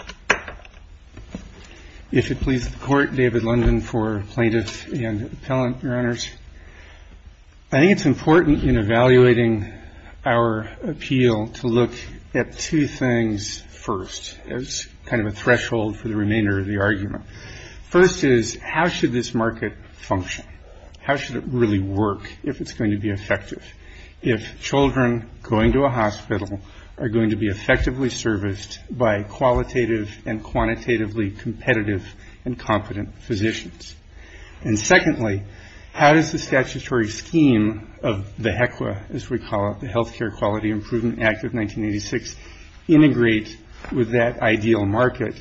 I think it's important in evaluating our appeal to look at two things first as kind of a threshold for the remainder of the argument. First is how should this market function? How should it really work if it's going to be effective? If children going to a hospital are going to be effectively serviced by qualitative and quantitatively competitive and competent physicians? And secondly, how does the statutory scheme of the HECWA, as we call it, the Health Care Quality Improvement Act of 1986, integrate with that ideal market?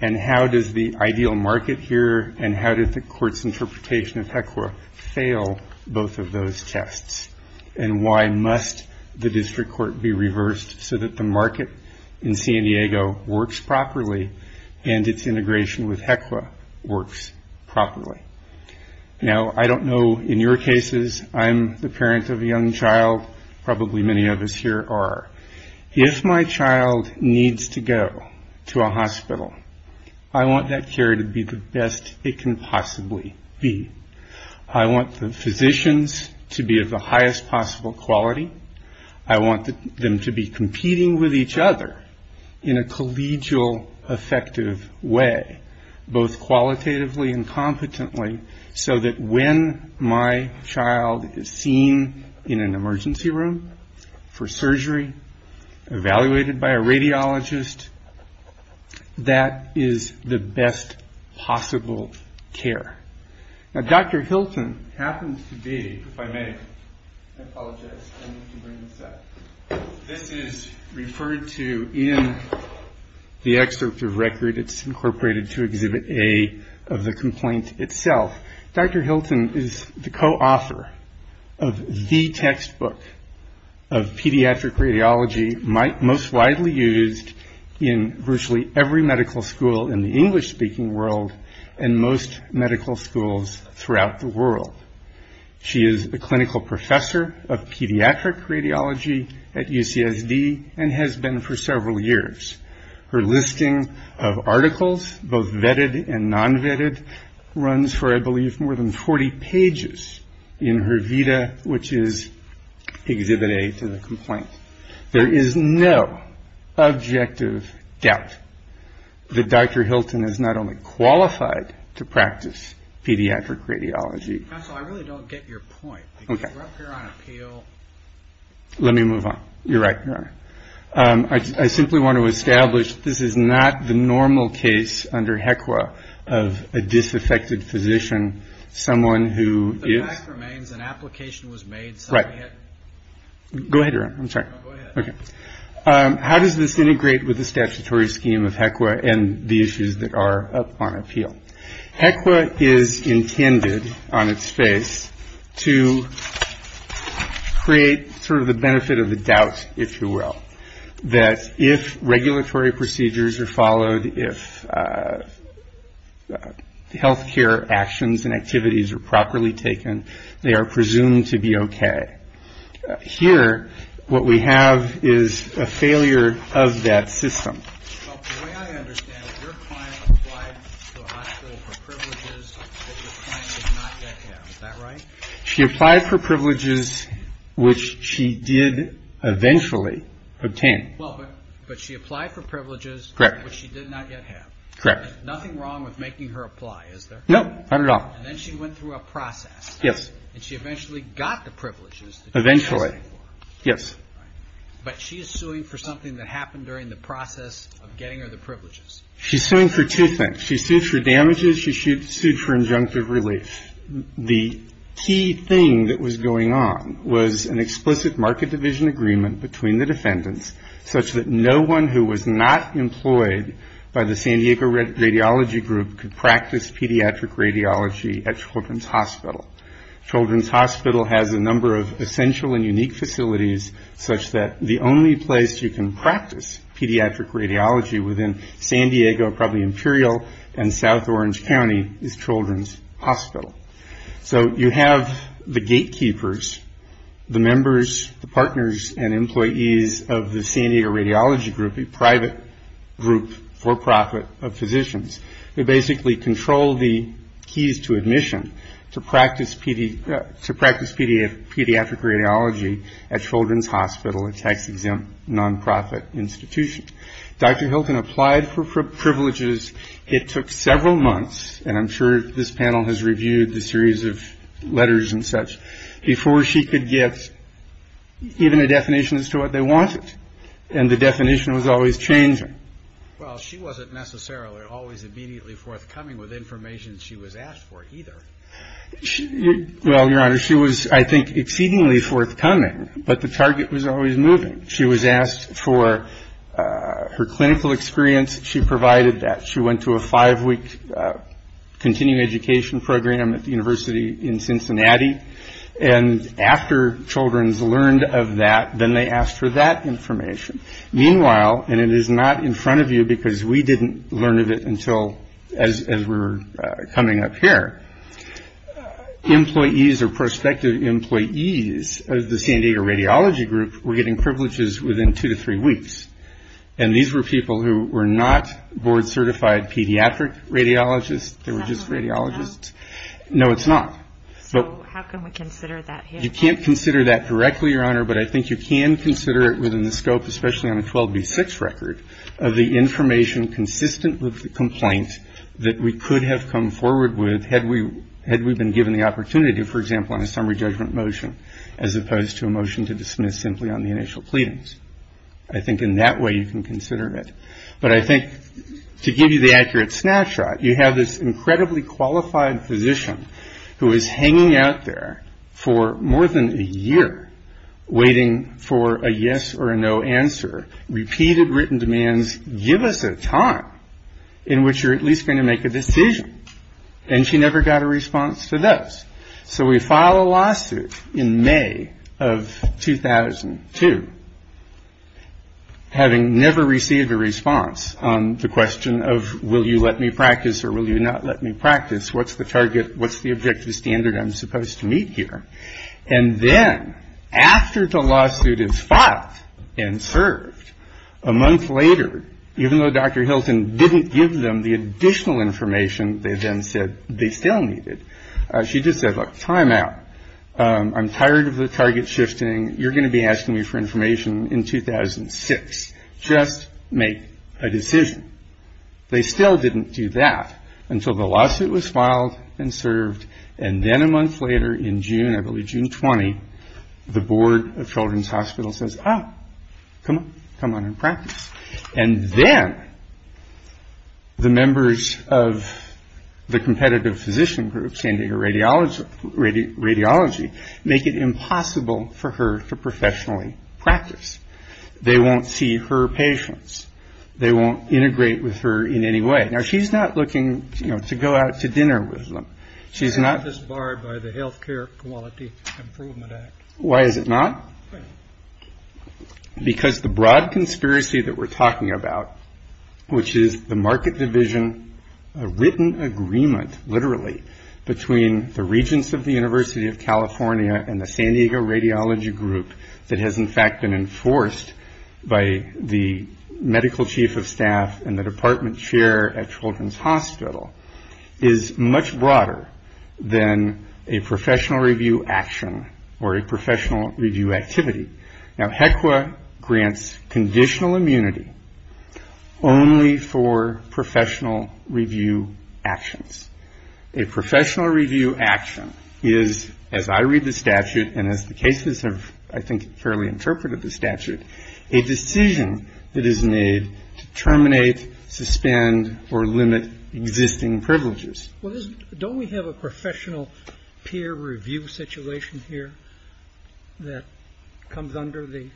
And how does the ideal market here and how does the court's interpretation of HECWA fail both of those tests? And why must the district court be reversed so that the market in San Diego works properly and its integration with HECWA works properly? Now I don't know in your cases. I'm the parent of a young child. Probably many of us here are. If my child needs to go to a hospital, I want that care to be the best it can possibly be. I want the physicians to be of the highest possible quality. I want them to be competing with each other in a collegial effective way, both qualitatively and competently, so that when my child is seen in an emergency room for surgery, evaluated by a radiologist, that is the best possible care. Now Dr. Hilton happens to be, if I may, I apologize, I need to bring this up. This is referred to in the excerpt of record. It's incorporated to Exhibit A of the complaint itself. Dr. Hilton is the co-author of the textbook of pediatric radiology most widely used in virtually every medical school in the English speaking world and most medical schools throughout the world. She is a clinical professor of pediatric radiology at UCSD and has been for several years. Her listing of articles, both vetted and non-vetted, runs for, I believe, more than 40 pages in her VITA, which is Exhibit A to the complaint. There is no objective doubt that Dr. Hilton is not only qualified to practice pediatric radiology. Dr. Hilton Counsel, I really don't get your point. Because you're up here on appeal. Dr. Kahn Let me move on. You're right, Your Honor. I simply want to establish this is not the normal case under HECWA of a disaffected physician, someone who is Dr. Hilton Right. Go ahead, Your Honor. I'm sorry. Dr. Kahn Go ahead. Dr. Kahn How does this integrate with the statutory scheme of HECWA and the issues that are up on appeal? HECWA is intended, on its face, to create sort of the benefit of the doubt, if you will, that if regulatory procedures are followed, if health care actions and activities are properly taken, they are presumed to be okay. Here, what we have is a failure of that system. Dr. Hilton Well, the way I understand it, your client applied to the hospital for privileges that your client did not yet have. Is that right? Dr. Kahn She applied for privileges which she did eventually obtain. Dr. Hilton Well, but she applied for privileges which she did not yet have. Dr. Kahn Correct. Dr. Hilton There's nothing wrong with making her apply, is there? Dr. Kahn Correct. Dr. Hilton And then she went through the process of applying for those privileges. Dr. Kahn Correct. And then she went through a process. Yes. Dr. Hilton And she eventually got the privileges that you were asking for. Dr. Kahn Eventually. Yes. Dr. Hilton Right. But she is suing for something that happened during the process of getting her the privileges. Dr. Kahn She's suing for two things. She sued for damages. She sued for injunctive relief. The key thing that was going on was an explicit market division agreement between the defendants such that no one who was not employed by the San Diego Radiology Group could practice pediatric radiology at Children's Hospital. Children's Hospital has a number of essential and unique facilities such that the only place you can practice pediatric radiology within San Diego, probably Imperial, and South Orange County is Children's Hospital. So you have the gatekeepers, the members, the partners, and employees of the San Diego Radiology Group, a private group for profit of physicians who basically control the keys to admission to practice pediatric radiology at Children's Hospital, a tax-exempt nonprofit institution. Dr. Hilton applied for privileges. It took several months, and I'm sure this panel has reviewed the series of letters and such, before she could get even a definition as to what they wanted, and the definition was always changing. Well, she wasn't necessarily always immediately forthcoming with information she was asked for either. Well, Your Honor, she was, I think, exceedingly forthcoming, but the target was always moving. She was asked for her clinical experience. She provided that. She went to a five-week continuing education program at the university in Cincinnati, and after Children's learned of that, then they asked for that information. Meanwhile, and it is not in front of you because we didn't learn of it until as we were coming up here, employees or prospective employees of the San Diego Radiology Group were getting privileges within two to three weeks, and these were people who were not board-certified They were just radiologists. Is that what we're talking about? No, it's not. So how can we consider that here? You can't consider that directly, Your Honor, but I think you can consider it within the scope, especially on a 12B6 record, of the information consistent with the complaint that we could have come forward with had we been given the opportunity, for example, on a summary judgment motion as opposed to a motion to dismiss simply on the initial pleadings. I think in that way you can consider it. But I think to give you the accurate snapshot, you have this incredibly qualified physician who is hanging out there for more than a year waiting for a yes or a no answer, repeated written demands, give us a time in which you're at least going to make a decision. And she never got a response to those. So we file a lawsuit in May of 2002, having never received a response on the question of will you let me practice or will you not let me practice? What's the target? What's the objective standard I'm supposed to meet here? And then after the lawsuit is filed and served a month later, even though Dr. Hilton didn't give them the additional information, they then said they still needed. She just said, look, time out. I'm tired of the target shifting. You're going to be asking me for information in 2006. Just make a decision. They still didn't do that until the lawsuit was filed and served. And then a month later in June, I believe June 20, the Board of Children's Hospital says, oh, come on. Come on and practice. And then the members of the competitive physician group, San Diego Radiology, make it impossible for her to professionally practice. They won't see her patients. They won't integrate with her in any way. Now, she's not looking to go out to dinner with them. She's not. Why is this barred by the Health Care Quality Improvement Act? Why is it not? Because the broad conspiracy that we're talking about, which is the market division, a written agreement literally between the regents of the University of California and the San Diego Radiology group that has, in fact, been enforced by the medical chief of staff and the department chair at Children's Hospital, is much broader than a professional review action or a professional review activity. Now, HECWA grants conditional immunity only for professional review actions. A professional review action is, as I read the statute and as the cases have, I think, fairly interpreted the statute, a decision that is made to terminate, suspend, or limit existing privileges. Well, don't we have a professional peer review situation here that comes under the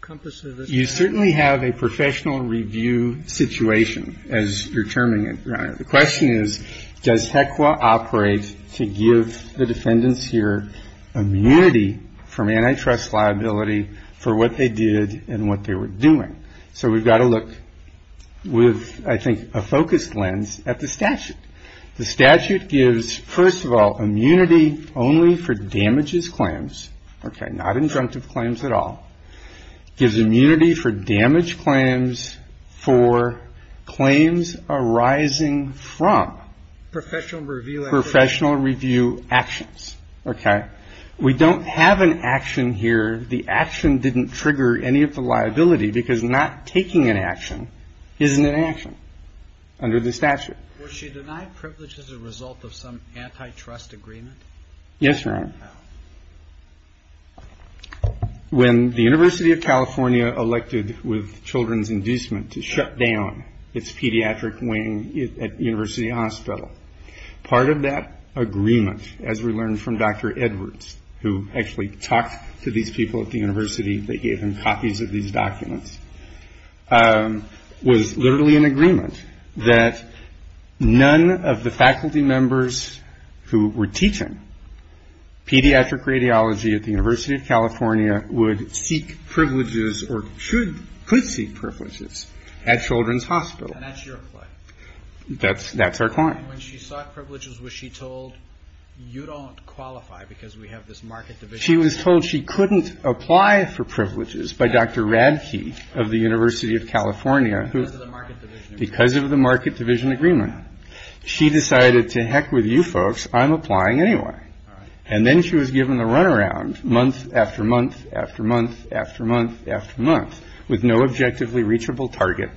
compass of this? You certainly have a professional review situation, as you're terming it, Your Honor. The question is, does HECWA operate to give the defendants here immunity from antitrust liability for what they did and what they were doing? So we've got to look with, I think, a focused lens at the statute. The statute gives, first of all, immunity only for damages claims, okay, not injunctive claims at all. It gives immunity for damage claims for claims arising from professional review actions, okay? We don't have an action here. The action didn't trigger any of the liability because not taking an action isn't an action under the statute. Was she denied privilege as a result of some antitrust agreement? Yes, Your Honor. When the University of California elected with children's inducement to shut down its pediatric wing at University Hospital, part of that agreement, as we learned from Dr. Edwards, who actually talked to these people at the university, they gave him copies of these documents, was literally an agreement that none of the faculty members who were teaching pediatric radiology at the University of California would seek privileges or could seek privileges at children's hospital. And that's your claim? That's our claim. And when she sought privileges, was she told, you don't qualify because we have this market division agreement? She was told she couldn't apply for privileges by Dr. Radke of the University of California. Because of the market division agreement. She decided, to heck with you folks, I'm applying anyway. And then she was given the runaround month after month after month after month after month with no objectively reachable target,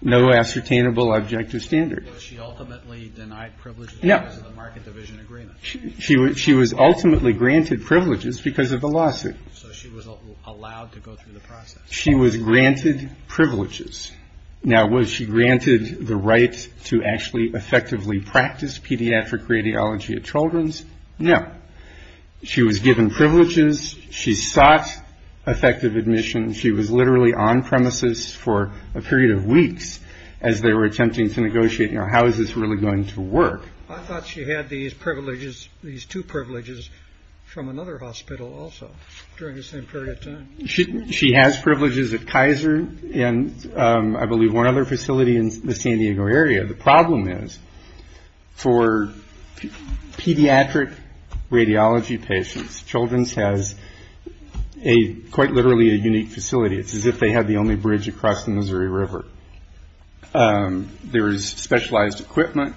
no ascertainable objective standard. Was she ultimately denied privileges because of the market division agreement? She was ultimately granted privileges because of the lawsuit. So she was allowed to go through the process? She was granted privileges. Now, was she granted the right to actually effectively practice pediatric radiology at children's? No. She was given privileges. She sought effective admission. She was literally on premises for a period of weeks as they were attempting to negotiate, you know, how is this really going to work? I thought she had these privileges, these two privileges from another hospital also during the same period of time. She has privileges at Kaiser and I believe one other facility in the San Diego area. The problem is for pediatric radiology patients, Children's has quite literally a unique facility. It's as if they have the only bridge across the Missouri River. There is specialized equipment.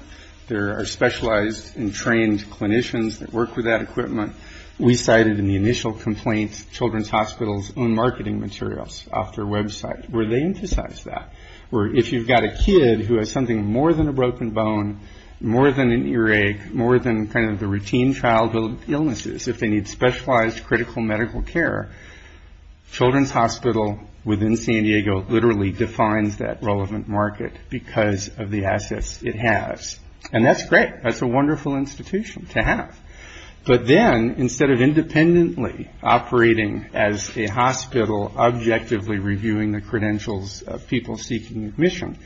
There are specialized and trained clinicians that work with that equipment. We cited in the initial complaint Children's Hospital's own marketing materials off their website where they emphasize that. Where if you've got a kid who has something more than a broken bone, more than an earache, more than kind of the routine childhood illnesses, if they need specialized critical medical care, Children's Hospital within San Diego literally defines that relevant market because of the assets it has. And that's great. That's a wonderful institution to have. But then instead of independently operating as a hospital, objectively reviewing the credentials of people seeking admission,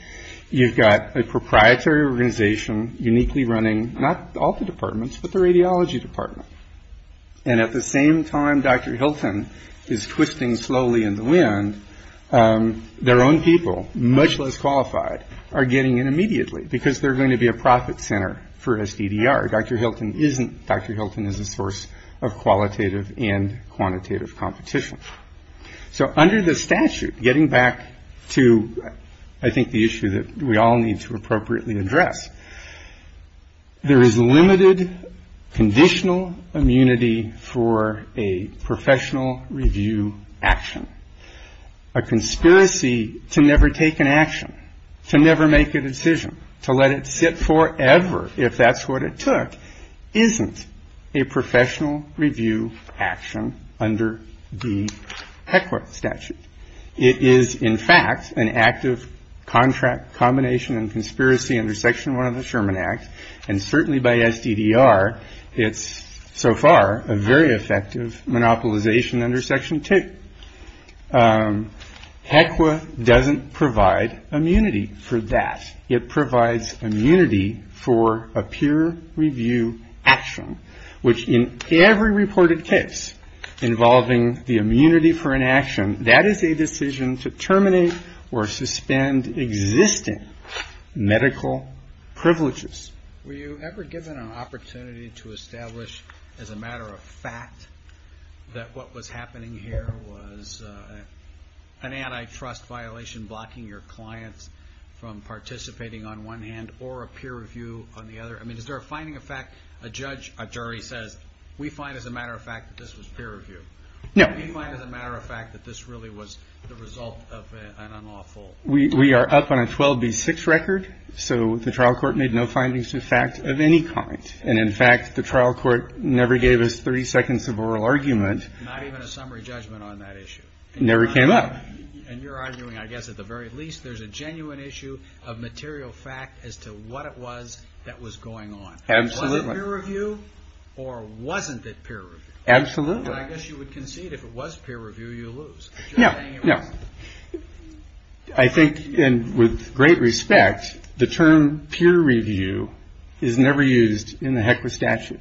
you've got a proprietary organization uniquely running, not all the departments, but the radiology department. And at the same time, Dr. Hilton is twisting slowly in the wind, their own people, much less qualified, are getting in immediately because they're going to be a profit center for SDDR. Dr. Hilton is a source of qualitative and quantitative competition. So under the statute, getting back to I think the issue that we all need to appropriately address, there is limited conditional immunity for a professional review action, a conspiracy to never take an action, to never make a decision, to let it sit forever if that's what it took, isn't a professional review action under the statute. It is, in fact, an active contract combination and conspiracy under Section one of the Sherman Act. And certainly by SDDR, it's so far a very effective monopolization under Section two. HECWA doesn't provide immunity for that. It provides immunity for a peer review action, which in every reported case involving the immunity for an action, that is a decision to terminate or suspend existing medical privileges. Were you ever given an opportunity to establish as a matter of fact that what was happening here was a professional review action? An antitrust violation blocking your clients from participating on one hand or a peer review on the other? I mean, is there a finding of fact, a judge, a jury says, we find as a matter of fact that this was peer review. We find as a matter of fact that this really was the result of an unlawful... We are up on a 12B6 record, so the trial court made no findings to the fact of any kind. And in fact, the trial court never gave us 30 seconds of oral argument. Not even a summary judgment on that issue? Never came up. And you're arguing, I guess, at the very least, there's a genuine issue of material fact as to what it was that was going on. Absolutely. Was it peer review or wasn't it peer review? Absolutely. I guess you would concede if it was peer review, you lose. No, no. I think, and with great respect, the term peer review is never used in the HECWA statute.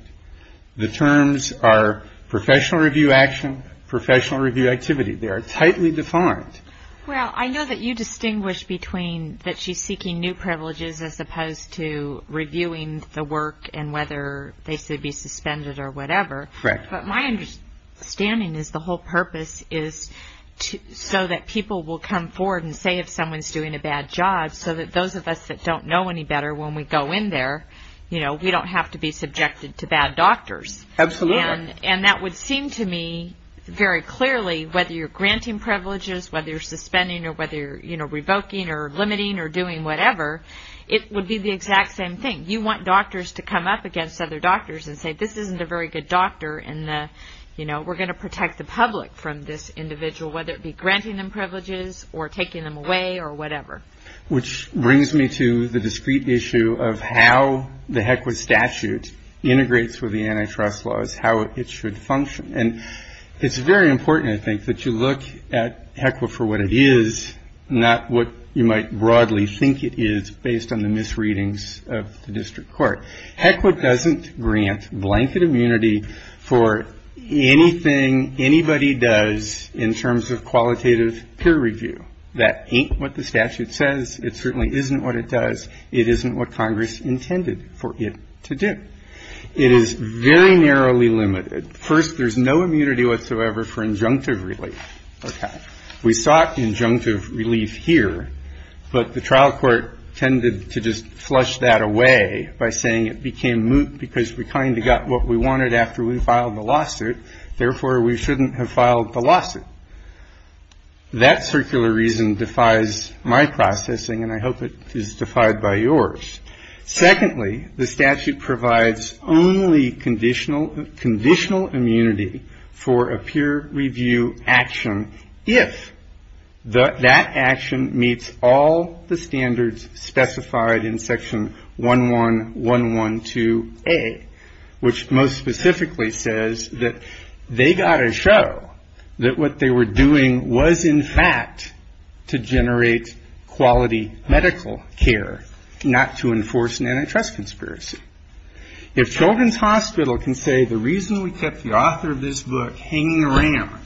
The terms are professional review action, professional review activity. They are tightly defined. Well, I know that you distinguish between that she's seeking new privileges as opposed to reviewing the work and whether they should be suspended or whatever. Correct. But my understanding is the whole purpose is so that people will come forward and say if someone's doing a bad job, so that those of us that don't know any better, when we go in there, you know, we don't have to be subjected to bad doctors. Absolutely. And that would seem to me very clearly whether you're granting privileges, whether you're suspending or whether you're, you know, revoking or limiting or doing whatever, it would be the exact same thing. You want doctors to come up against other doctors and say this isn't a very good doctor and, you know, we're going to protect the public from this individual, whether it be granting them privileges or taking them away or whatever. Which brings me to the discrete issue of how the HECWA statute integrates with the antitrust laws, how it should function, and it's very important, I think, that you look at HECWA for what it is, not what you might broadly think it is based on the misreadings of the district court. HECWA doesn't grant blanket immunity for anything anybody does in terms of qualitative peer review. That ain't what the statute says. It certainly isn't what it does. It isn't what Congress intended for it to do. It is very narrowly limited. First, there's no immunity whatsoever for injunctive relief. Okay. We sought injunctive relief here, but the trial court tended to just flush that away by saying it became moot because we kind of got what we wanted after we filed the lawsuit. Therefore, we shouldn't have filed the lawsuit. That circular reason defies my processing, and I hope it is defied by yours. Secondly, the statute provides only conditional immunity for a peer review action if that action meets all the standards specified in Section 11112A, which most specifically says that they got to show that what they were doing was in fact to generate quality medical care, not to enforce an antitrust conspiracy. If Children's Hospital can say the reason we kept the author of this book hanging around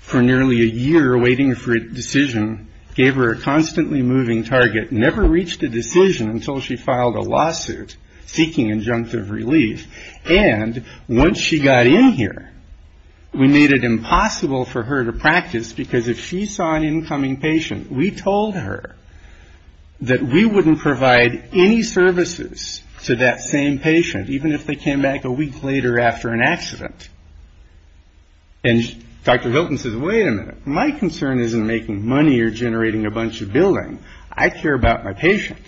for nearly a year, waiting for a decision, gave her a constantly moving target, never reached a decision until she filed a lawsuit seeking injunctive relief, and once she got in here, we made it impossible for her to practice because if she saw an incoming patient, we told her that we wouldn't provide any services to that same patient, even if they came back a week later after an accident. And Dr. Hilton says, wait a minute, my concern isn't making money or generating a bunch of billing. I care about my patient.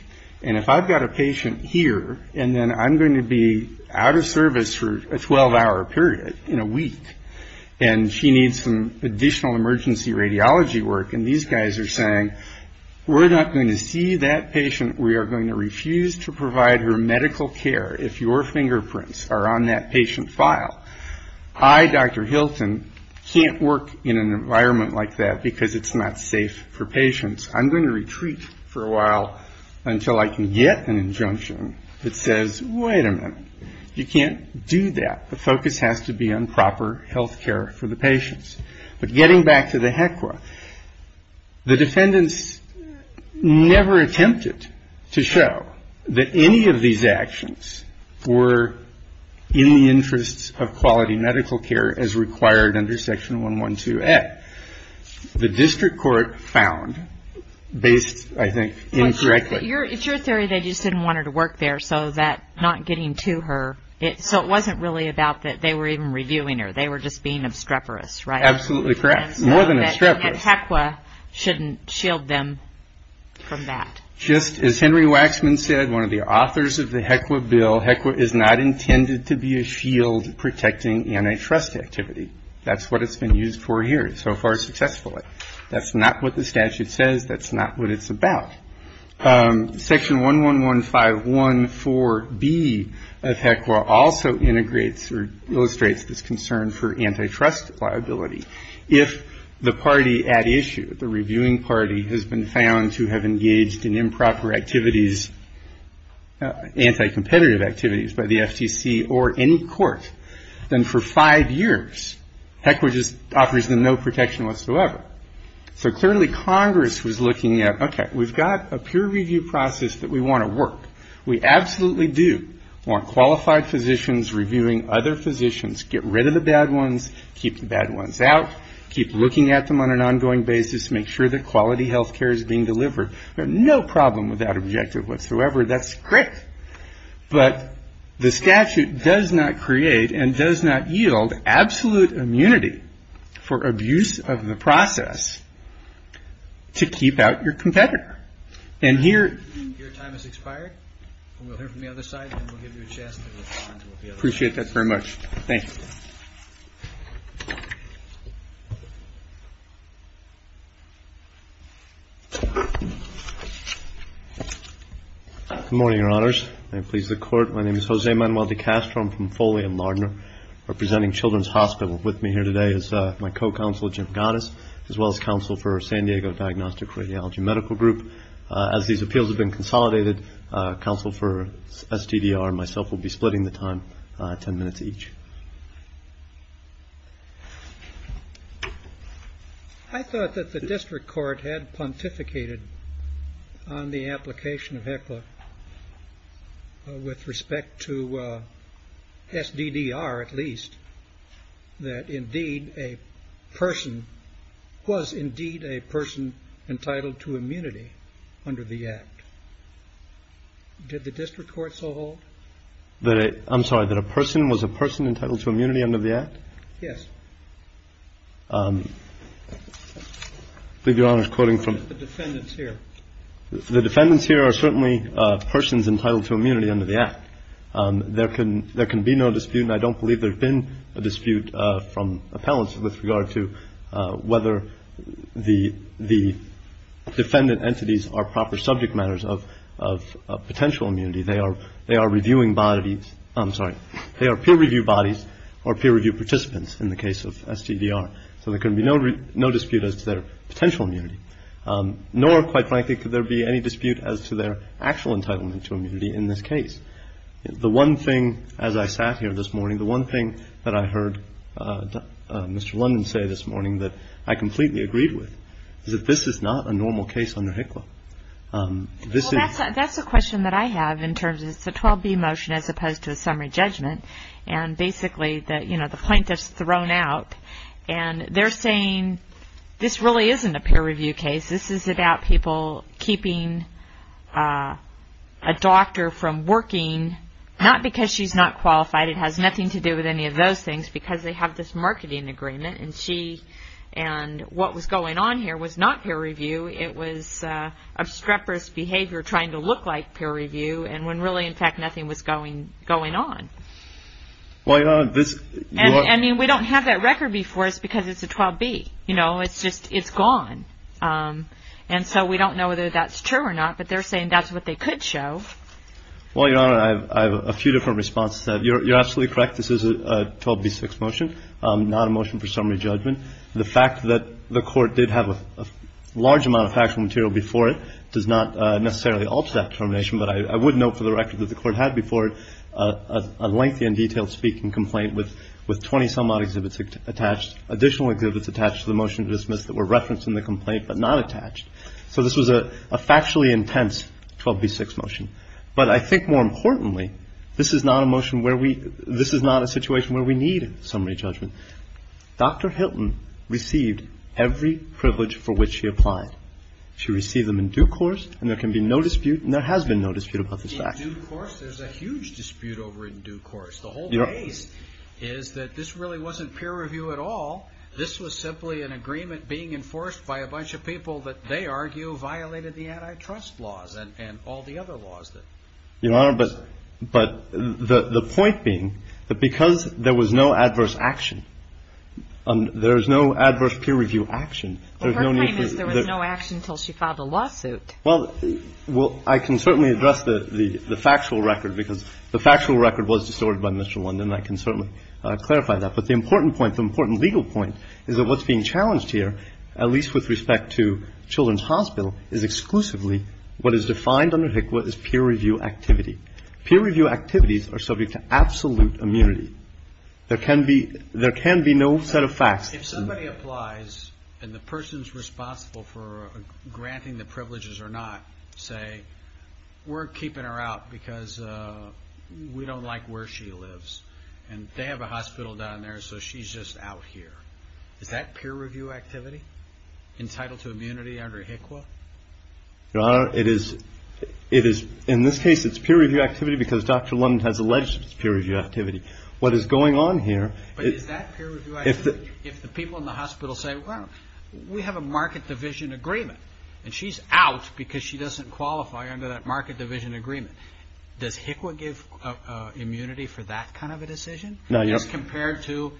And if I've got a patient here, and then I'm going to be out of service for a 12-hour period in a week, and she needs some additional emergency radiology work, and these guys are saying, we're not going to see that patient, we are going to refuse to provide her medical care if your fingerprints are on that patient file. I, Dr. Hilton, can't work in an environment like that because it's not safe for patients. I'm going to retreat for a while until I can get an injunction that says, wait a minute, you can't do that. The focus has to be on proper health care for the patients. But getting back to the HECWA, the defendants never attempted to show that any of these actions were in the interests of quality medical care as required under Section 112A. The district court found, based, I think, incorrectly. It's your theory they just didn't want her to work there, so that not getting to her, so it wasn't really about that they were even reviewing her. They were just being obstreperous, right? More than obstreperous. And HECWA shouldn't shield them from that. Just as Henry Waxman said, one of the authors of the HECWA bill, HECWA is not intended to be a shield protecting antitrust activity. That's what it's been used for here so far successfully. That's not what the statute says. That's not what it's about. Section 111514B of HECWA also integrates or illustrates this concern for antitrust liability. If the party at issue, the reviewing party, has been found to have engaged in improper activities, anti-competitive activities by the FTC or any court, then for five years, HECWA just offers them no protection whatsoever. So clearly Congress was looking at, okay, we've got a peer review process that we want to work. We absolutely do want qualified physicians reviewing other physicians, get rid of the bad ones, keep the bad ones out, keep looking at them on an ongoing basis, make sure that quality health care is being delivered. No problem with that objective whatsoever. That's great. But the statute does not create and does not yield absolute immunity for abuse of the process to keep out your competitor. And here... Your time has expired. We'll hear from the other side and we'll give you a chance to respond. Appreciate that very much. Thank you. Good morning, Your Honors. May it please the Court. My name is Jose Manuel de Castro. I'm from Foley and Lardner. Representing Children's Hospital with me here today is my co-counsel, Jim Gattas, as well as counsel for San Diego Diagnostic Radiology Medical Group. As these appeals have been consolidated, counsel for SDDR and myself will be splitting the time ten minutes each. I thought that the district court had pontificated on the application of HECLA with respect to SDDR, at least, that indeed a person was indeed a person entitled to immunity under the Act. Did the district court so hold? I'm sorry, that a person was a person entitled to immunity under the Act? Yes. I believe Your Honor is quoting from... The defendants here. There can be no dispute, and I don't believe there's been a dispute from appellants with regard to whether the defendant entities are proper subject matters of potential immunity. They are peer-reviewed bodies or peer-reviewed participants in the case of SDDR. So there can be no dispute as to their potential immunity. Nor, quite frankly, could there be any dispute as to their actual entitlement to immunity in this case. The one thing, as I sat here this morning, the one thing that I heard Mr. London say this morning that I completely agreed with is that this is not a normal case under HECLA. That's a question that I have in terms of the 12B motion as opposed to the summary judgment. And basically, you know, the plaintiff's thrown out, and they're saying this really isn't a peer-review case. This is about people keeping a doctor from working, not because she's not qualified. It has nothing to do with any of those things because they have this marketing agreement, and she and what was going on here was not peer-review. It was obstreperous behavior trying to look like peer-review, and when really, in fact, nothing was going on. I mean, we don't have that record before us because it's a 12B. You know, it's just gone. And so we don't know whether that's true or not, but they're saying that's what they could show. Well, Your Honor, I have a few different responses to that. You're absolutely correct. This is a 12B6 motion, not a motion for summary judgment. The fact that the court did have a large amount of factual material before it does not necessarily alter that determination, but I would note for the record that the court had before it a lengthy and detailed speaking complaint with 20-some odd exhibits attached, additional exhibits attached to the motion to dismiss that were referenced in the complaint but not attached. So this was a factually intense 12B6 motion. But I think more importantly, this is not a motion where we – this is not a situation where we need summary judgment. Dr. Hilton received every privilege for which she applied. She received them in due course, and there can be no dispute, and there has been no dispute about this fact. In due course, there's a huge dispute over in due course. The whole case is that this really wasn't peer review at all. This was simply an agreement being enforced by a bunch of people that they argue violated the antitrust laws and all the other laws. Your Honor, but the point being that because there was no adverse action, there is no adverse peer review action. Well, her claim is there was no action until she filed a lawsuit. Well, I can certainly address the factual record because the factual record was distorted by Mr. London, and I can certainly clarify that. But the important point, the important legal point is that what's being challenged here, at least with respect to Children's Hospital, is exclusively what is defined under HCWA as peer review activity. Peer review activities are subject to absolute immunity. There can be no set of facts. If somebody applies and the person's responsible for granting the privileges or not say, we're keeping her out because we don't like where she lives, and they have a hospital down there, so she's just out here. Is that peer review activity entitled to immunity under HCWA? Your Honor, it is. In this case, it's peer review activity because Dr. London has alleged it's peer review activity. What is going on here. But is that peer review activity if the people in the hospital say, well, we have a market division agreement, and she's out because she doesn't qualify under that market division agreement, does HCWA give immunity for that kind of a decision as compared to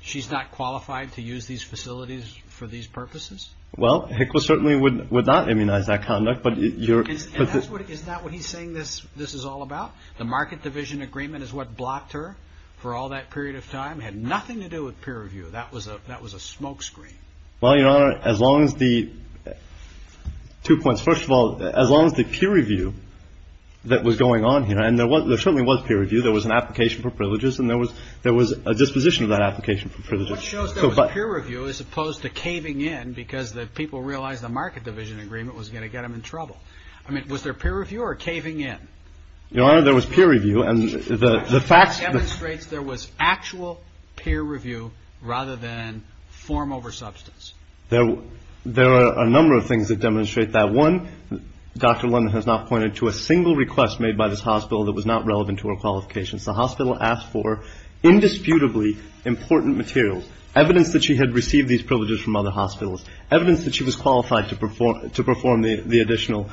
she's not qualified to use these facilities for these purposes? Well, HCWA certainly would not immunize that conduct. Is that what he's saying this is all about? The market division agreement is what blocked her for all that period of time. It had nothing to do with peer review. That was a smoke screen. Well, Your Honor, as long as the two points, first of all, as long as the peer review that was going on here, and there certainly was peer review, there was an application for privileges, and there was a disposition of that application for privileges. What shows there was peer review as opposed to caving in because the people realized the market division agreement was going to get them in trouble? I mean, was there peer review or caving in? Your Honor, there was peer review. And the facts demonstrate there was actual peer review rather than form over substance. There are a number of things that demonstrate that. One, Dr. London has not pointed to a single request made by this hospital that was not relevant to her qualifications. The hospital asked for indisputably important materials, evidence that she had received these privileges from other hospitals, evidence that she was qualified to perform the additional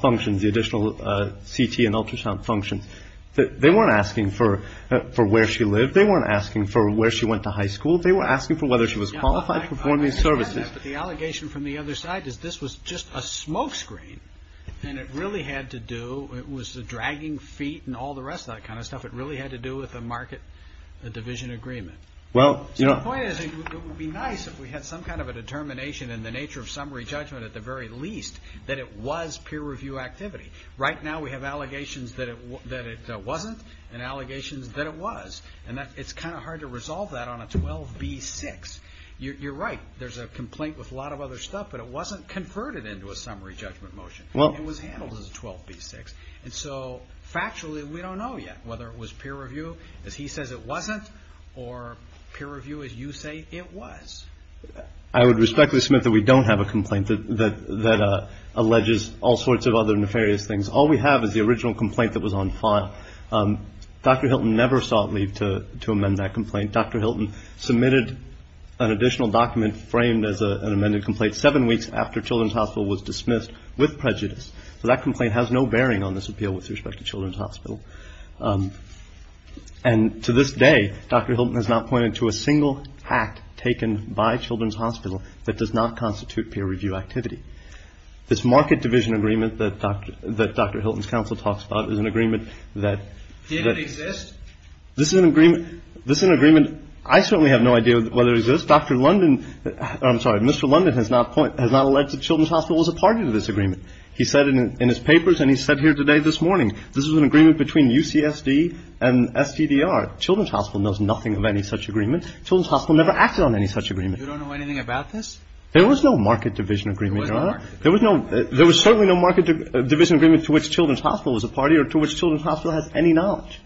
functions, the additional CT and ultrasound functions. They weren't asking for where she lived. They weren't asking for where she went to high school. They were asking for whether she was qualified for performing services. The allegation from the other side is this was just a smoke screen, and it really had to do, it was the dragging feet and all the rest of that kind of stuff. It really had to do with a market division agreement. So the point is it would be nice if we had some kind of a determination in the nature of summary judgment at the very least that it was peer review activity. Right now we have allegations that it wasn't and allegations that it was, and it's kind of hard to resolve that on a 12b-6. You're right, there's a complaint with a lot of other stuff, but it wasn't converted into a summary judgment motion. It was handled as a 12b-6. And so factually we don't know yet whether it was peer review, as he says it wasn't, or peer review as you say it was. I would respectfully submit that we don't have a complaint that alleges all sorts of other nefarious things. All we have is the original complaint that was on FONT. Dr. Hilton never sought leave to amend that complaint. Dr. Hilton submitted an additional document framed as an amended complaint seven weeks after Children's Hospital was dismissed with prejudice. So that complaint has no bearing on this appeal with respect to Children's Hospital. And to this day Dr. Hilton has not pointed to a single act taken by Children's Hospital that does not constitute peer review activity. This market division agreement that Dr. Hilton's counsel talks about is an agreement that- Did it exist? This is an agreement I certainly have no idea whether it exists. Dr. London, I'm sorry, Mr. London has not alleged that Children's Hospital was a party to this agreement. He said in his papers and he said here today this morning, this is an agreement between UCSD and STDR. Children's Hospital knows nothing of any such agreement. Children's Hospital never acted on any such agreement. You don't know anything about this? There was no market division agreement, Your Honor. There was certainly no market division agreement to which Children's Hospital was a party or to which Children's Hospital has any knowledge.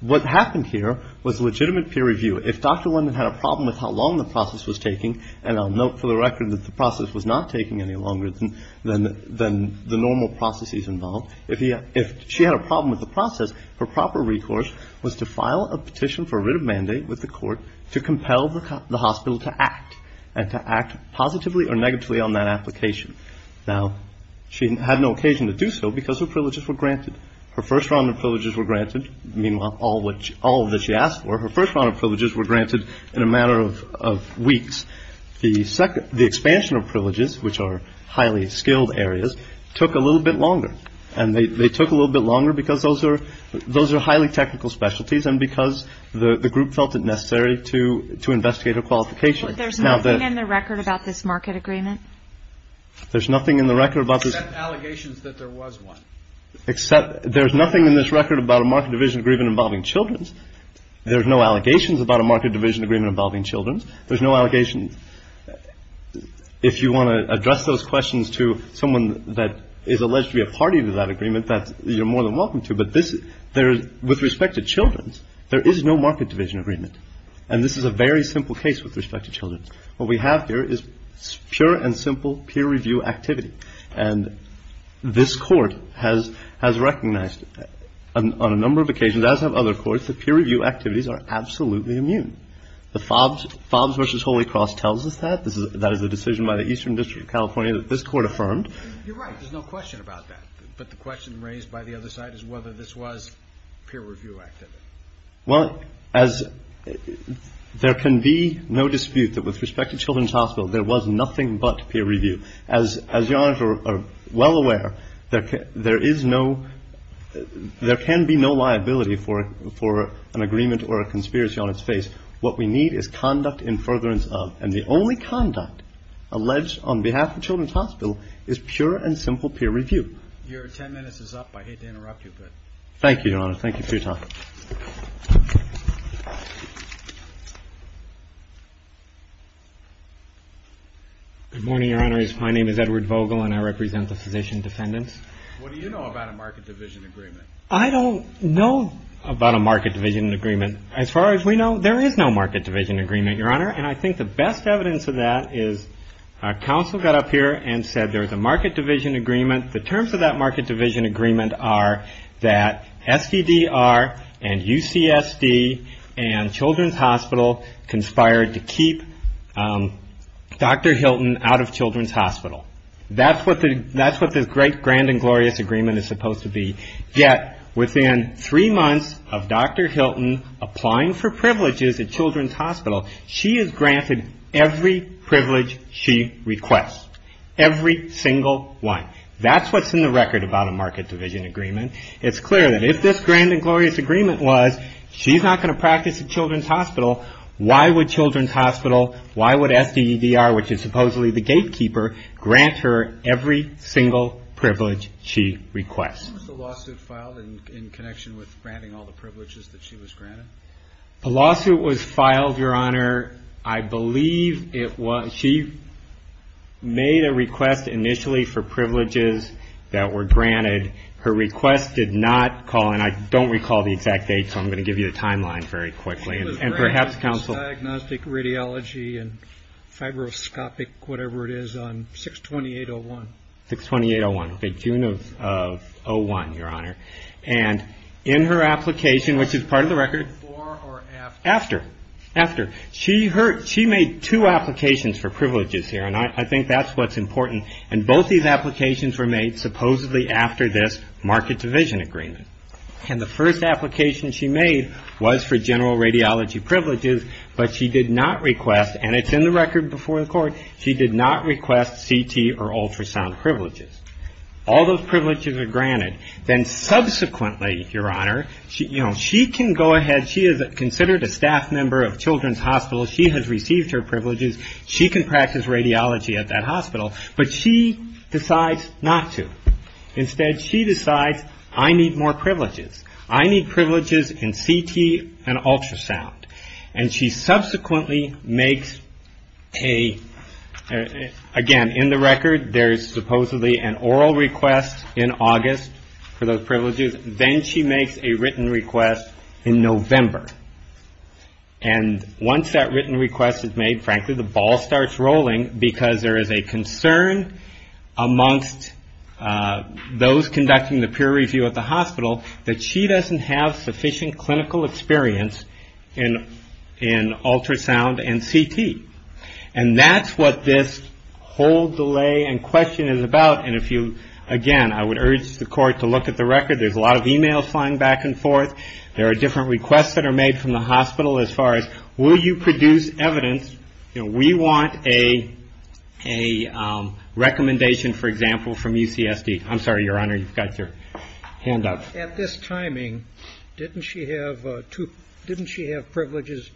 What happened here was legitimate peer review. If Dr. London had a problem with how long the process was taking, and I'll note for the record that the process was not taking any longer than the normal processes involved, if she had a problem with the process, her proper recourse was to file a petition for writ of mandate with the court to compel the hospital to act and to act positively or negatively on that application. Now, she had no occasion to do so because her privileges were granted. Her first round of privileges were granted. Meanwhile, all that she asked for, her first round of privileges were granted in a matter of weeks. The expansion of privileges, which are highly skilled areas, took a little bit longer. And they took a little bit longer because those are highly technical specialties and because the group felt it necessary to investigate her qualification. There's nothing in the record about this market agreement? There's nothing in the record about this. Except allegations that there was one. Except there's nothing in this record about a market division agreement involving children. There's no allegations about a market division agreement involving children. There's no allegations. If you want to address those questions to someone that is alleged to be a party to that agreement, you're more than welcome to. But with respect to children, there is no market division agreement. And this is a very simple case with respect to children. What we have here is pure and simple peer review activity. And this Court has recognized on a number of occasions, as have other courts, that peer review activities are absolutely immune. The Fobbs v. Holy Cross tells us that. That is a decision by the Eastern District of California that this Court affirmed. You're right. There's no question about that. But the question raised by the other side is whether this was peer review activity. Well, as there can be no dispute that with respect to children's hospitals, there was nothing but peer review. As Your Honor is well aware, there is no ‑‑ there can be no liability for an agreement or a conspiracy on its face. What we need is conduct in furtherance of. And the only conduct alleged on behalf of children's hospital is pure and simple peer review. Your ten minutes is up. I hate to interrupt you, but ‑‑ Thank you, Your Honor. Thank you for your time. Good morning, Your Honor. My name is Edward Vogel, and I represent the Physician Defendants. What do you know about a market division agreement? I don't know about a market division agreement. As far as we know, there is no market division agreement, Your Honor. And I think the best evidence of that is counsel got up here and said there's a market division agreement. The terms of that market division agreement are that SBDR and UCSD and Children's Hospital conspired to keep Dr. Hilton out of children's hospital. That's what the great grand and glorious agreement is supposed to be. Yet within three months of Dr. Hilton applying for privileges at children's hospital, she is granted every privilege she requests. Every single one. That's what's in the record about a market division agreement. It's clear that if this grand and glorious agreement was she's not going to practice at children's hospital, why would children's hospital, why would SBDR, which is supposedly the gatekeeper, grant her every single privilege she requests? When was the lawsuit filed in connection with granting all the privileges that she was granted? The lawsuit was filed, Your Honor, I believe it was ‑‑ She made a request initially for privileges that were granted. Her request did not call, and I don't recall the exact date, so I'm going to give you a timeline very quickly. And perhaps counsel ‑‑ Diagnostic radiology and fibroscopic whatever it is on 62801. 62801. June of 01, Your Honor. And in her application, which is part of the record. Before or after? After. After. She made two applications for privileges here, and I think that's what's important. And both these applications were made supposedly after this market division agreement. And the first application she made was for general radiology privileges, but she did not request, and it's in the record before the court, she did not request CT or ultrasound privileges. All those privileges are granted. Then subsequently, Your Honor, you know, she can go ahead, she is considered a staff member of Children's Hospital. She has received her privileges. She can practice radiology at that hospital. But she decides not to. Instead, she decides, I need more privileges. I need privileges in CT and ultrasound. And she subsequently makes a, again, in the record, there's supposedly an oral request in August for those privileges. Then she makes a written request in November. And once that written request is made, frankly, the ball starts rolling because there is a concern amongst those conducting the that she doesn't have sufficient clinical experience in ultrasound and CT. And that's what this whole delay and question is about. And if you, again, I would urge the court to look at the record. There's a lot of e-mails flying back and forth. There are different requests that are made from the hospital as far as, will you produce evidence? You know, we want a recommendation, for example, from UCSD. I'm sorry, Your Honor, you've got your hand up. At this timing, didn't she have privileges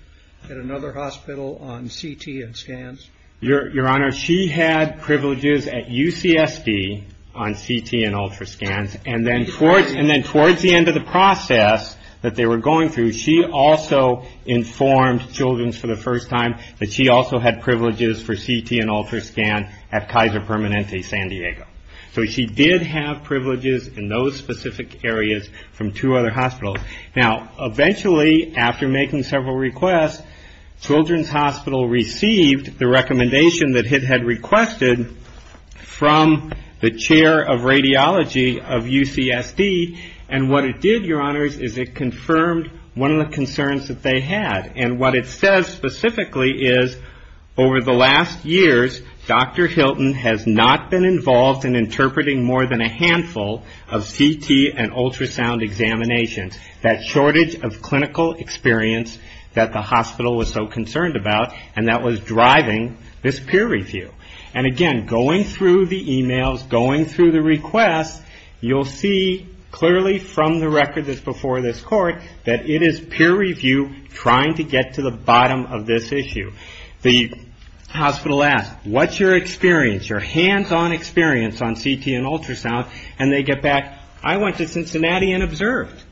at another hospital on CT and scans? Your Honor, she had privileges at UCSD on CT and ultrasound. And then towards the end of the process that they were going through, she also informed Children's for the first time that she also had privileges for CT and ultrasound at Kaiser Permanente San Diego. So she did have privileges in those specific areas from two other hospitals. Now, eventually, after making several requests, Children's Hospital received the recommendation that it had requested from the chair of radiology of UCSD. And what it did, Your Honors, is it confirmed one of the concerns that they had. And what it says specifically is, over the last years, Dr. Hilton has not been involved in interpreting more than a handful of CT and ultrasound examinations. That shortage of clinical experience that the hospital was so concerned about, and that was driving this peer review. And again, going through the e-mails, going through the requests, you'll see clearly from the record that's before this court that it is peer review trying to get to the bottom of this issue. The hospital asks, what's your experience, your hands-on experience on CT and ultrasound? And they get back, I went to Cincinnati and observed.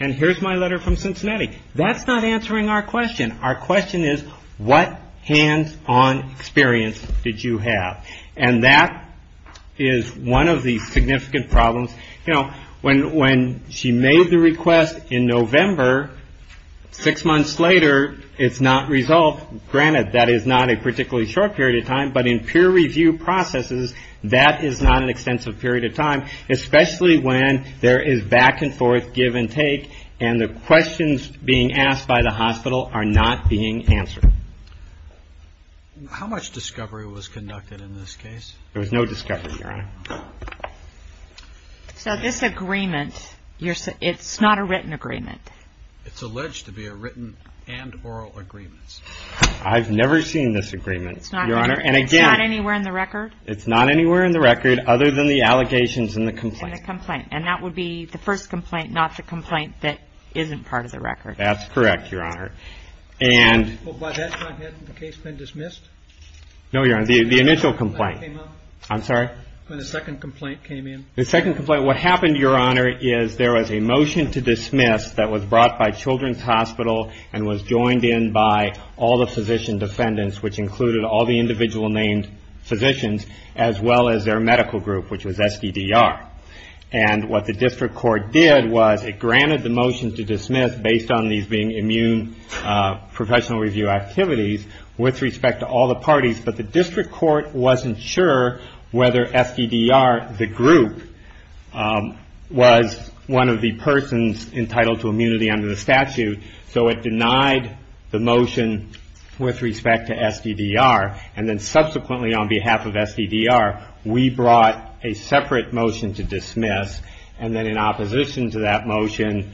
And here's my letter from Cincinnati. That's not answering our question. Our question is, what hands-on experience did you have? And that is one of the significant problems. You know, when she made the request in November, six months later, it's not resolved. Granted, that is not a particularly short period of time. But in peer review processes, that is not an extensive period of time, especially when there is back and forth, give and take. And the questions being asked by the hospital are not being answered. How much discovery was conducted in this case? There was no discovery, Your Honor. So this agreement, it's not a written agreement? It's alleged to be a written and oral agreement. I've never seen this agreement, Your Honor. It's not anywhere in the record? It's not anywhere in the record other than the allegations and the complaint. And that would be the first complaint, not the complaint that isn't part of the record. That's correct, Your Honor. Well, by that time, hadn't the case been dismissed? No, Your Honor, the initial complaint. When the second complaint came in? The second complaint, what happened, Your Honor, is there was a motion to dismiss that was brought by Children's Hospital and was joined in by all the physician defendants, which included all the individual named physicians, as well as their medical group, which was SDDR. It was dismissed based on these being immune professional review activities with respect to all the parties, but the district court wasn't sure whether SDDR, the group, was one of the persons entitled to immunity under the statute, so it denied the motion with respect to SDDR. And then subsequently on behalf of SDDR, we brought a separate motion to dismiss, and then in opposition to that motion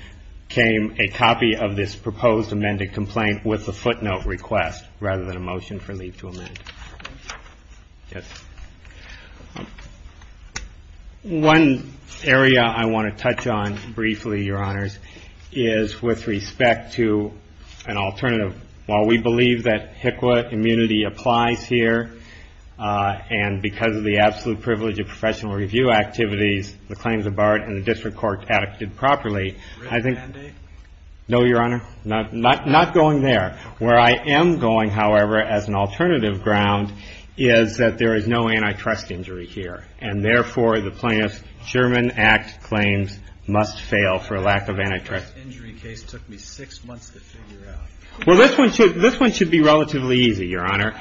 came a copy of this proposed amended complaint with a footnote request, rather than a motion for leave to amend. One area I want to touch on briefly, Your Honors, is with respect to an alternative. While we believe that HICWA immunity applies here, and because of the absolute privilege of professional review activities, the claims are barred and the district court acted properly. No, Your Honor, not going there. Where I am going, however, as an alternative ground, is that there is no antitrust injury here, and therefore the plaintiff's Sherman Act claims must fail for lack of antitrust. Well, this one should be relatively easy, Your Honor,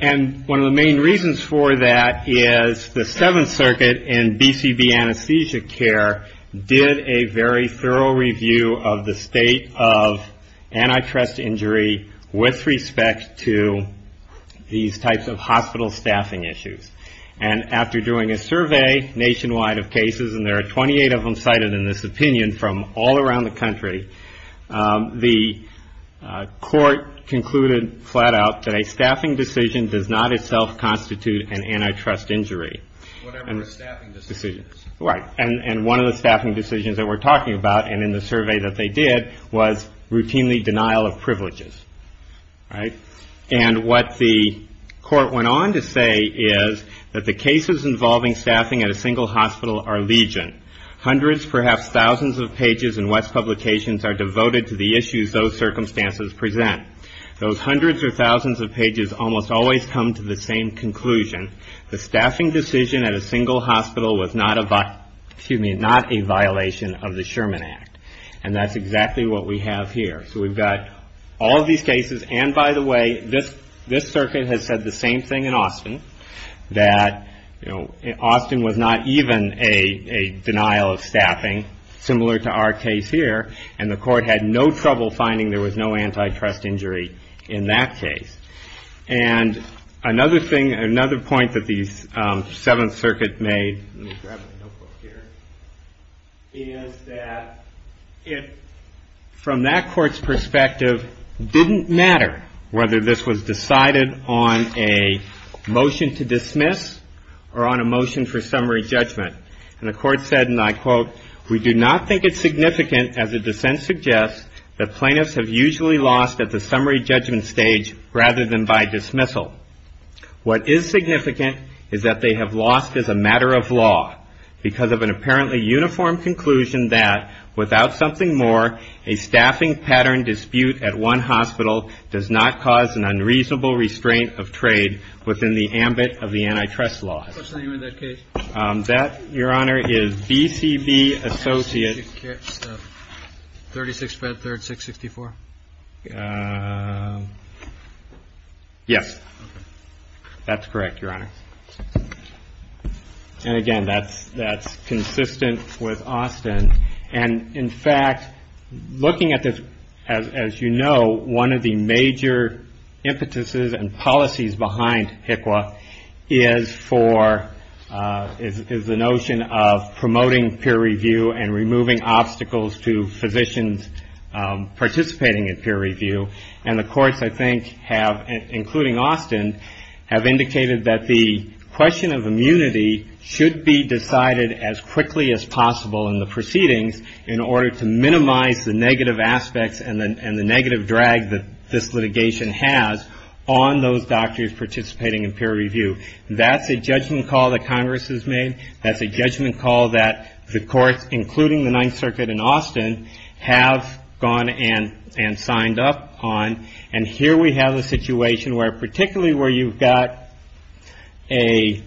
and one of the main reasons for that is the Seventh Circuit in BCB anesthesia care did a very thorough review of the state of antitrust injury with respect to these types of hospital staffing issues. And after doing a survey nationwide of cases, and there are 28 of them cited in this opinion from all around the country, the court concluded flat out that a staffing decision does not itself constitute an antitrust injury. Whatever the staffing decision is. Right. And one of the staffing decisions that we're talking about, and in the survey that they did, was routinely denial of privileges. Right? And what the court went on to say is that the cases involving staffing at a single hospital are legion. Hundreds, perhaps thousands of pages in WETS publications are devoted to the issues those circumstances present. Those hundreds or thousands of pages almost always come to the same conclusion. The staffing decision at a single hospital was not a violation of the Sherman Act. And that's exactly what we have here. So we've got all of these cases, and by the way, this circuit has said the same thing in Austin, that Austin was not even a denial of staffing, similar to our case here, and the court had no trouble finding there was no antitrust injury in that case. And another thing, another point that the Seventh Circuit made, let me grab my notebook here, is that it, from that court's perspective, didn't matter whether this was decided on a motion to dismiss or on a motion for summary judgment. And the court said, and I quote, we do not think it's significant, as the dissent suggests, that plaintiffs have usually lost at the summary judgment stage rather than by dismissal. What is significant is that they have lost as a matter of law because of an apparently uniform conclusion that without something more, a staffing pattern dispute at one hospital does not cause an unreasonable restraint of trade within the ambit of the antitrust law. What's the name of that case? That, Your Honor, is B.C.B. Associates. 36-5-3-664? Yes. That's correct, Your Honor. And again, that's consistent with Austin. And, in fact, looking at this, as you know, one of the major impetuses and policies behind HCWA is for, is the notion of promoting peer review and removing obstacles to physicians participating in peer review. And the courts, I think, have, including Austin, have indicated that the question of immunity should be decided as quickly as possible in the proceedings in order to minimize the negative aspects and the negative drag that this litigation has on those doctors participating in peer review. That's a judgment call that Congress has made. That's a judgment call that the courts, including the Ninth Circuit and Austin, have gone and signed up on. And here we have a situation where, particularly where you've got an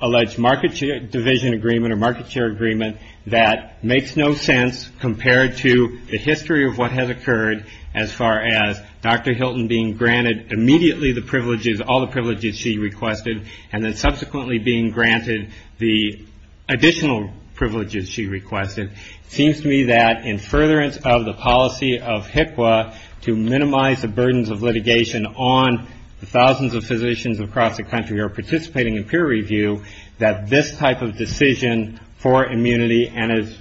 alleged market division agreement or market share agreement that makes no sense compared to the history of what has occurred as far as Dr. Hilton being granted immediately the privileges, all the privileges she requested, and then subsequently being granted the additional privileges she requested. It seems to me that in furtherance of the policy of HCWA to minimize the burdens of litigation on thousands of physicians across the country who are participating in peer review, that this type of decision for immunity, and as,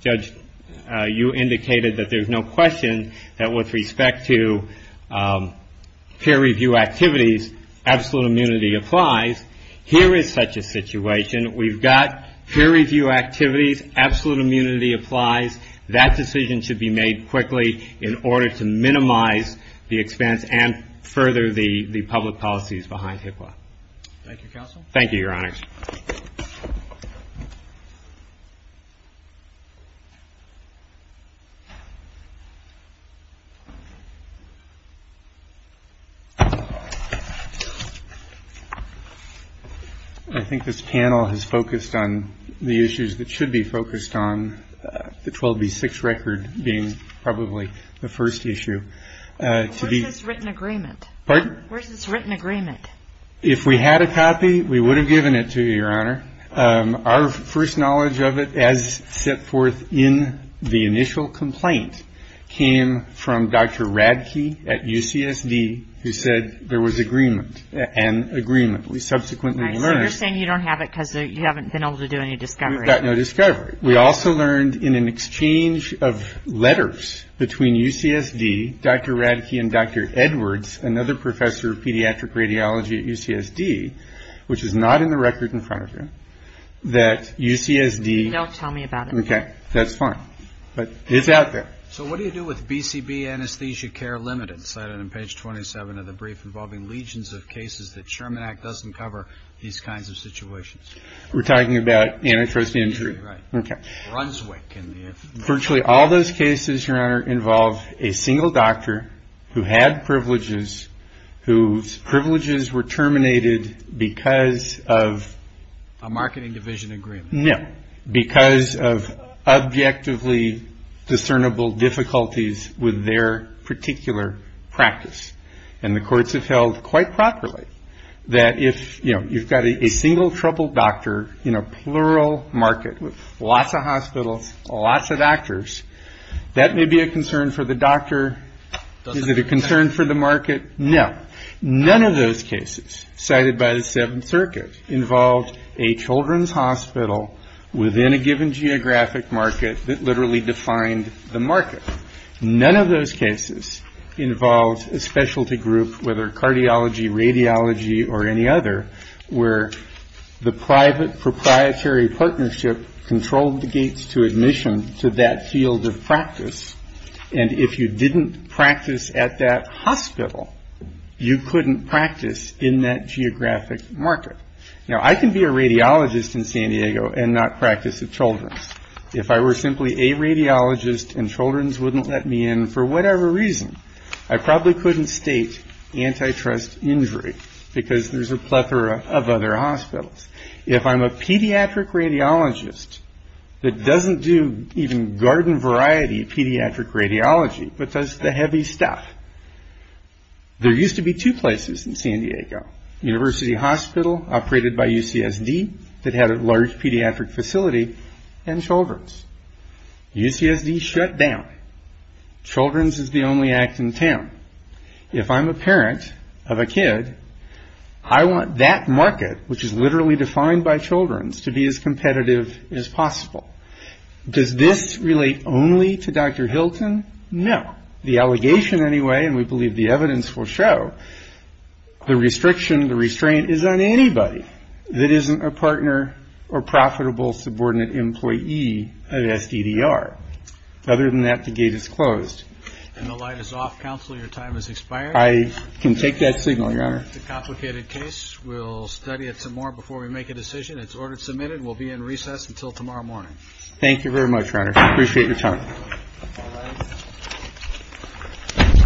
Judge, you indicated that there's no question that with respect to peer review activities, absolute immunity applies. Here is such a situation. We've got peer review activities. Absolute immunity applies. That decision should be made quickly in order to minimize the expense and further the public policies behind HCWA. Thank you, Counsel. Thank you, Your Honors. Thank you. I think this panel has focused on the issues that should be focused on, the 12B6 record being probably the first issue. Where's this written agreement? Pardon? Where's this written agreement? If we had a copy, we would have given it to you, Your Honor. Our first knowledge of it as set forth in the initial complaint came from Dr. Radke at UCSD who said there was agreement, an agreement we subsequently learned. So you're saying you don't have it because you haven't been able to do any discovery. We've got no discovery. We also learned in an exchange of letters between UCSD, Dr. Radke and Dr. Edwards, another professor of pediatric radiology at UCSD, which is not in the record in front of you, that UCSD. Don't tell me about it. Okay. That's fine. But it's out there. So what do you do with BCB anesthesia care limited cited in page 27 of the brief involving legions of cases that Sherman Act doesn't cover these kinds of situations? We're talking about antitrust injury. Right. Okay. Brunswick. Virtually all those cases, Your Honor, involve a single doctor who had privileges, whose privileges were terminated because of a marketing division agreement. No. Because of objectively discernible difficulties with their particular practice. And the courts have held quite properly that if, you know, you've got a single troubled doctor in a plural market with lots of hospitals, lots of doctors, that may be a concern for the doctor. Is it a concern for the market? No. None of those cases cited by the Seventh Circuit involved a children's hospital within a given geographic market that literally defined the market. None of those cases involved a specialty group, whether cardiology, radiology, or any other, where the private proprietary partnership controlled the gates to admission to that field of practice. And if you didn't practice at that hospital, you couldn't practice in that geographic market. Now, I can be a radiologist in San Diego and not practice at Children's. If I were simply a radiologist and Children's wouldn't let me in for whatever reason, I probably couldn't state antitrust injury because there's a plethora of other hospitals. If I'm a pediatric radiologist that doesn't do even garden variety pediatric radiology, but does the heavy stuff, there used to be two places in San Diego, University Hospital, operated by UCSD, that had a large pediatric facility, and Children's. UCSD shut down. Children's is the only act in town. If I'm a parent of a kid, I want that market, which is literally defined by Children's, to be as competitive as possible. Does this relate only to Dr. Hilton? No. The allegation anyway, and we believe the evidence will show, the restriction, the restraint, is on anybody that isn't a partner or profitable subordinate employee of SDDR. Other than that, the gate is closed. And the light is off, Counselor. Your time has expired. I can take that signal, Your Honor. It's a complicated case. We'll study it some more before we make a decision. It's order submitted. We'll be in recess until tomorrow morning. Thank you very much, Your Honor. I appreciate your time. Thank you. All rise.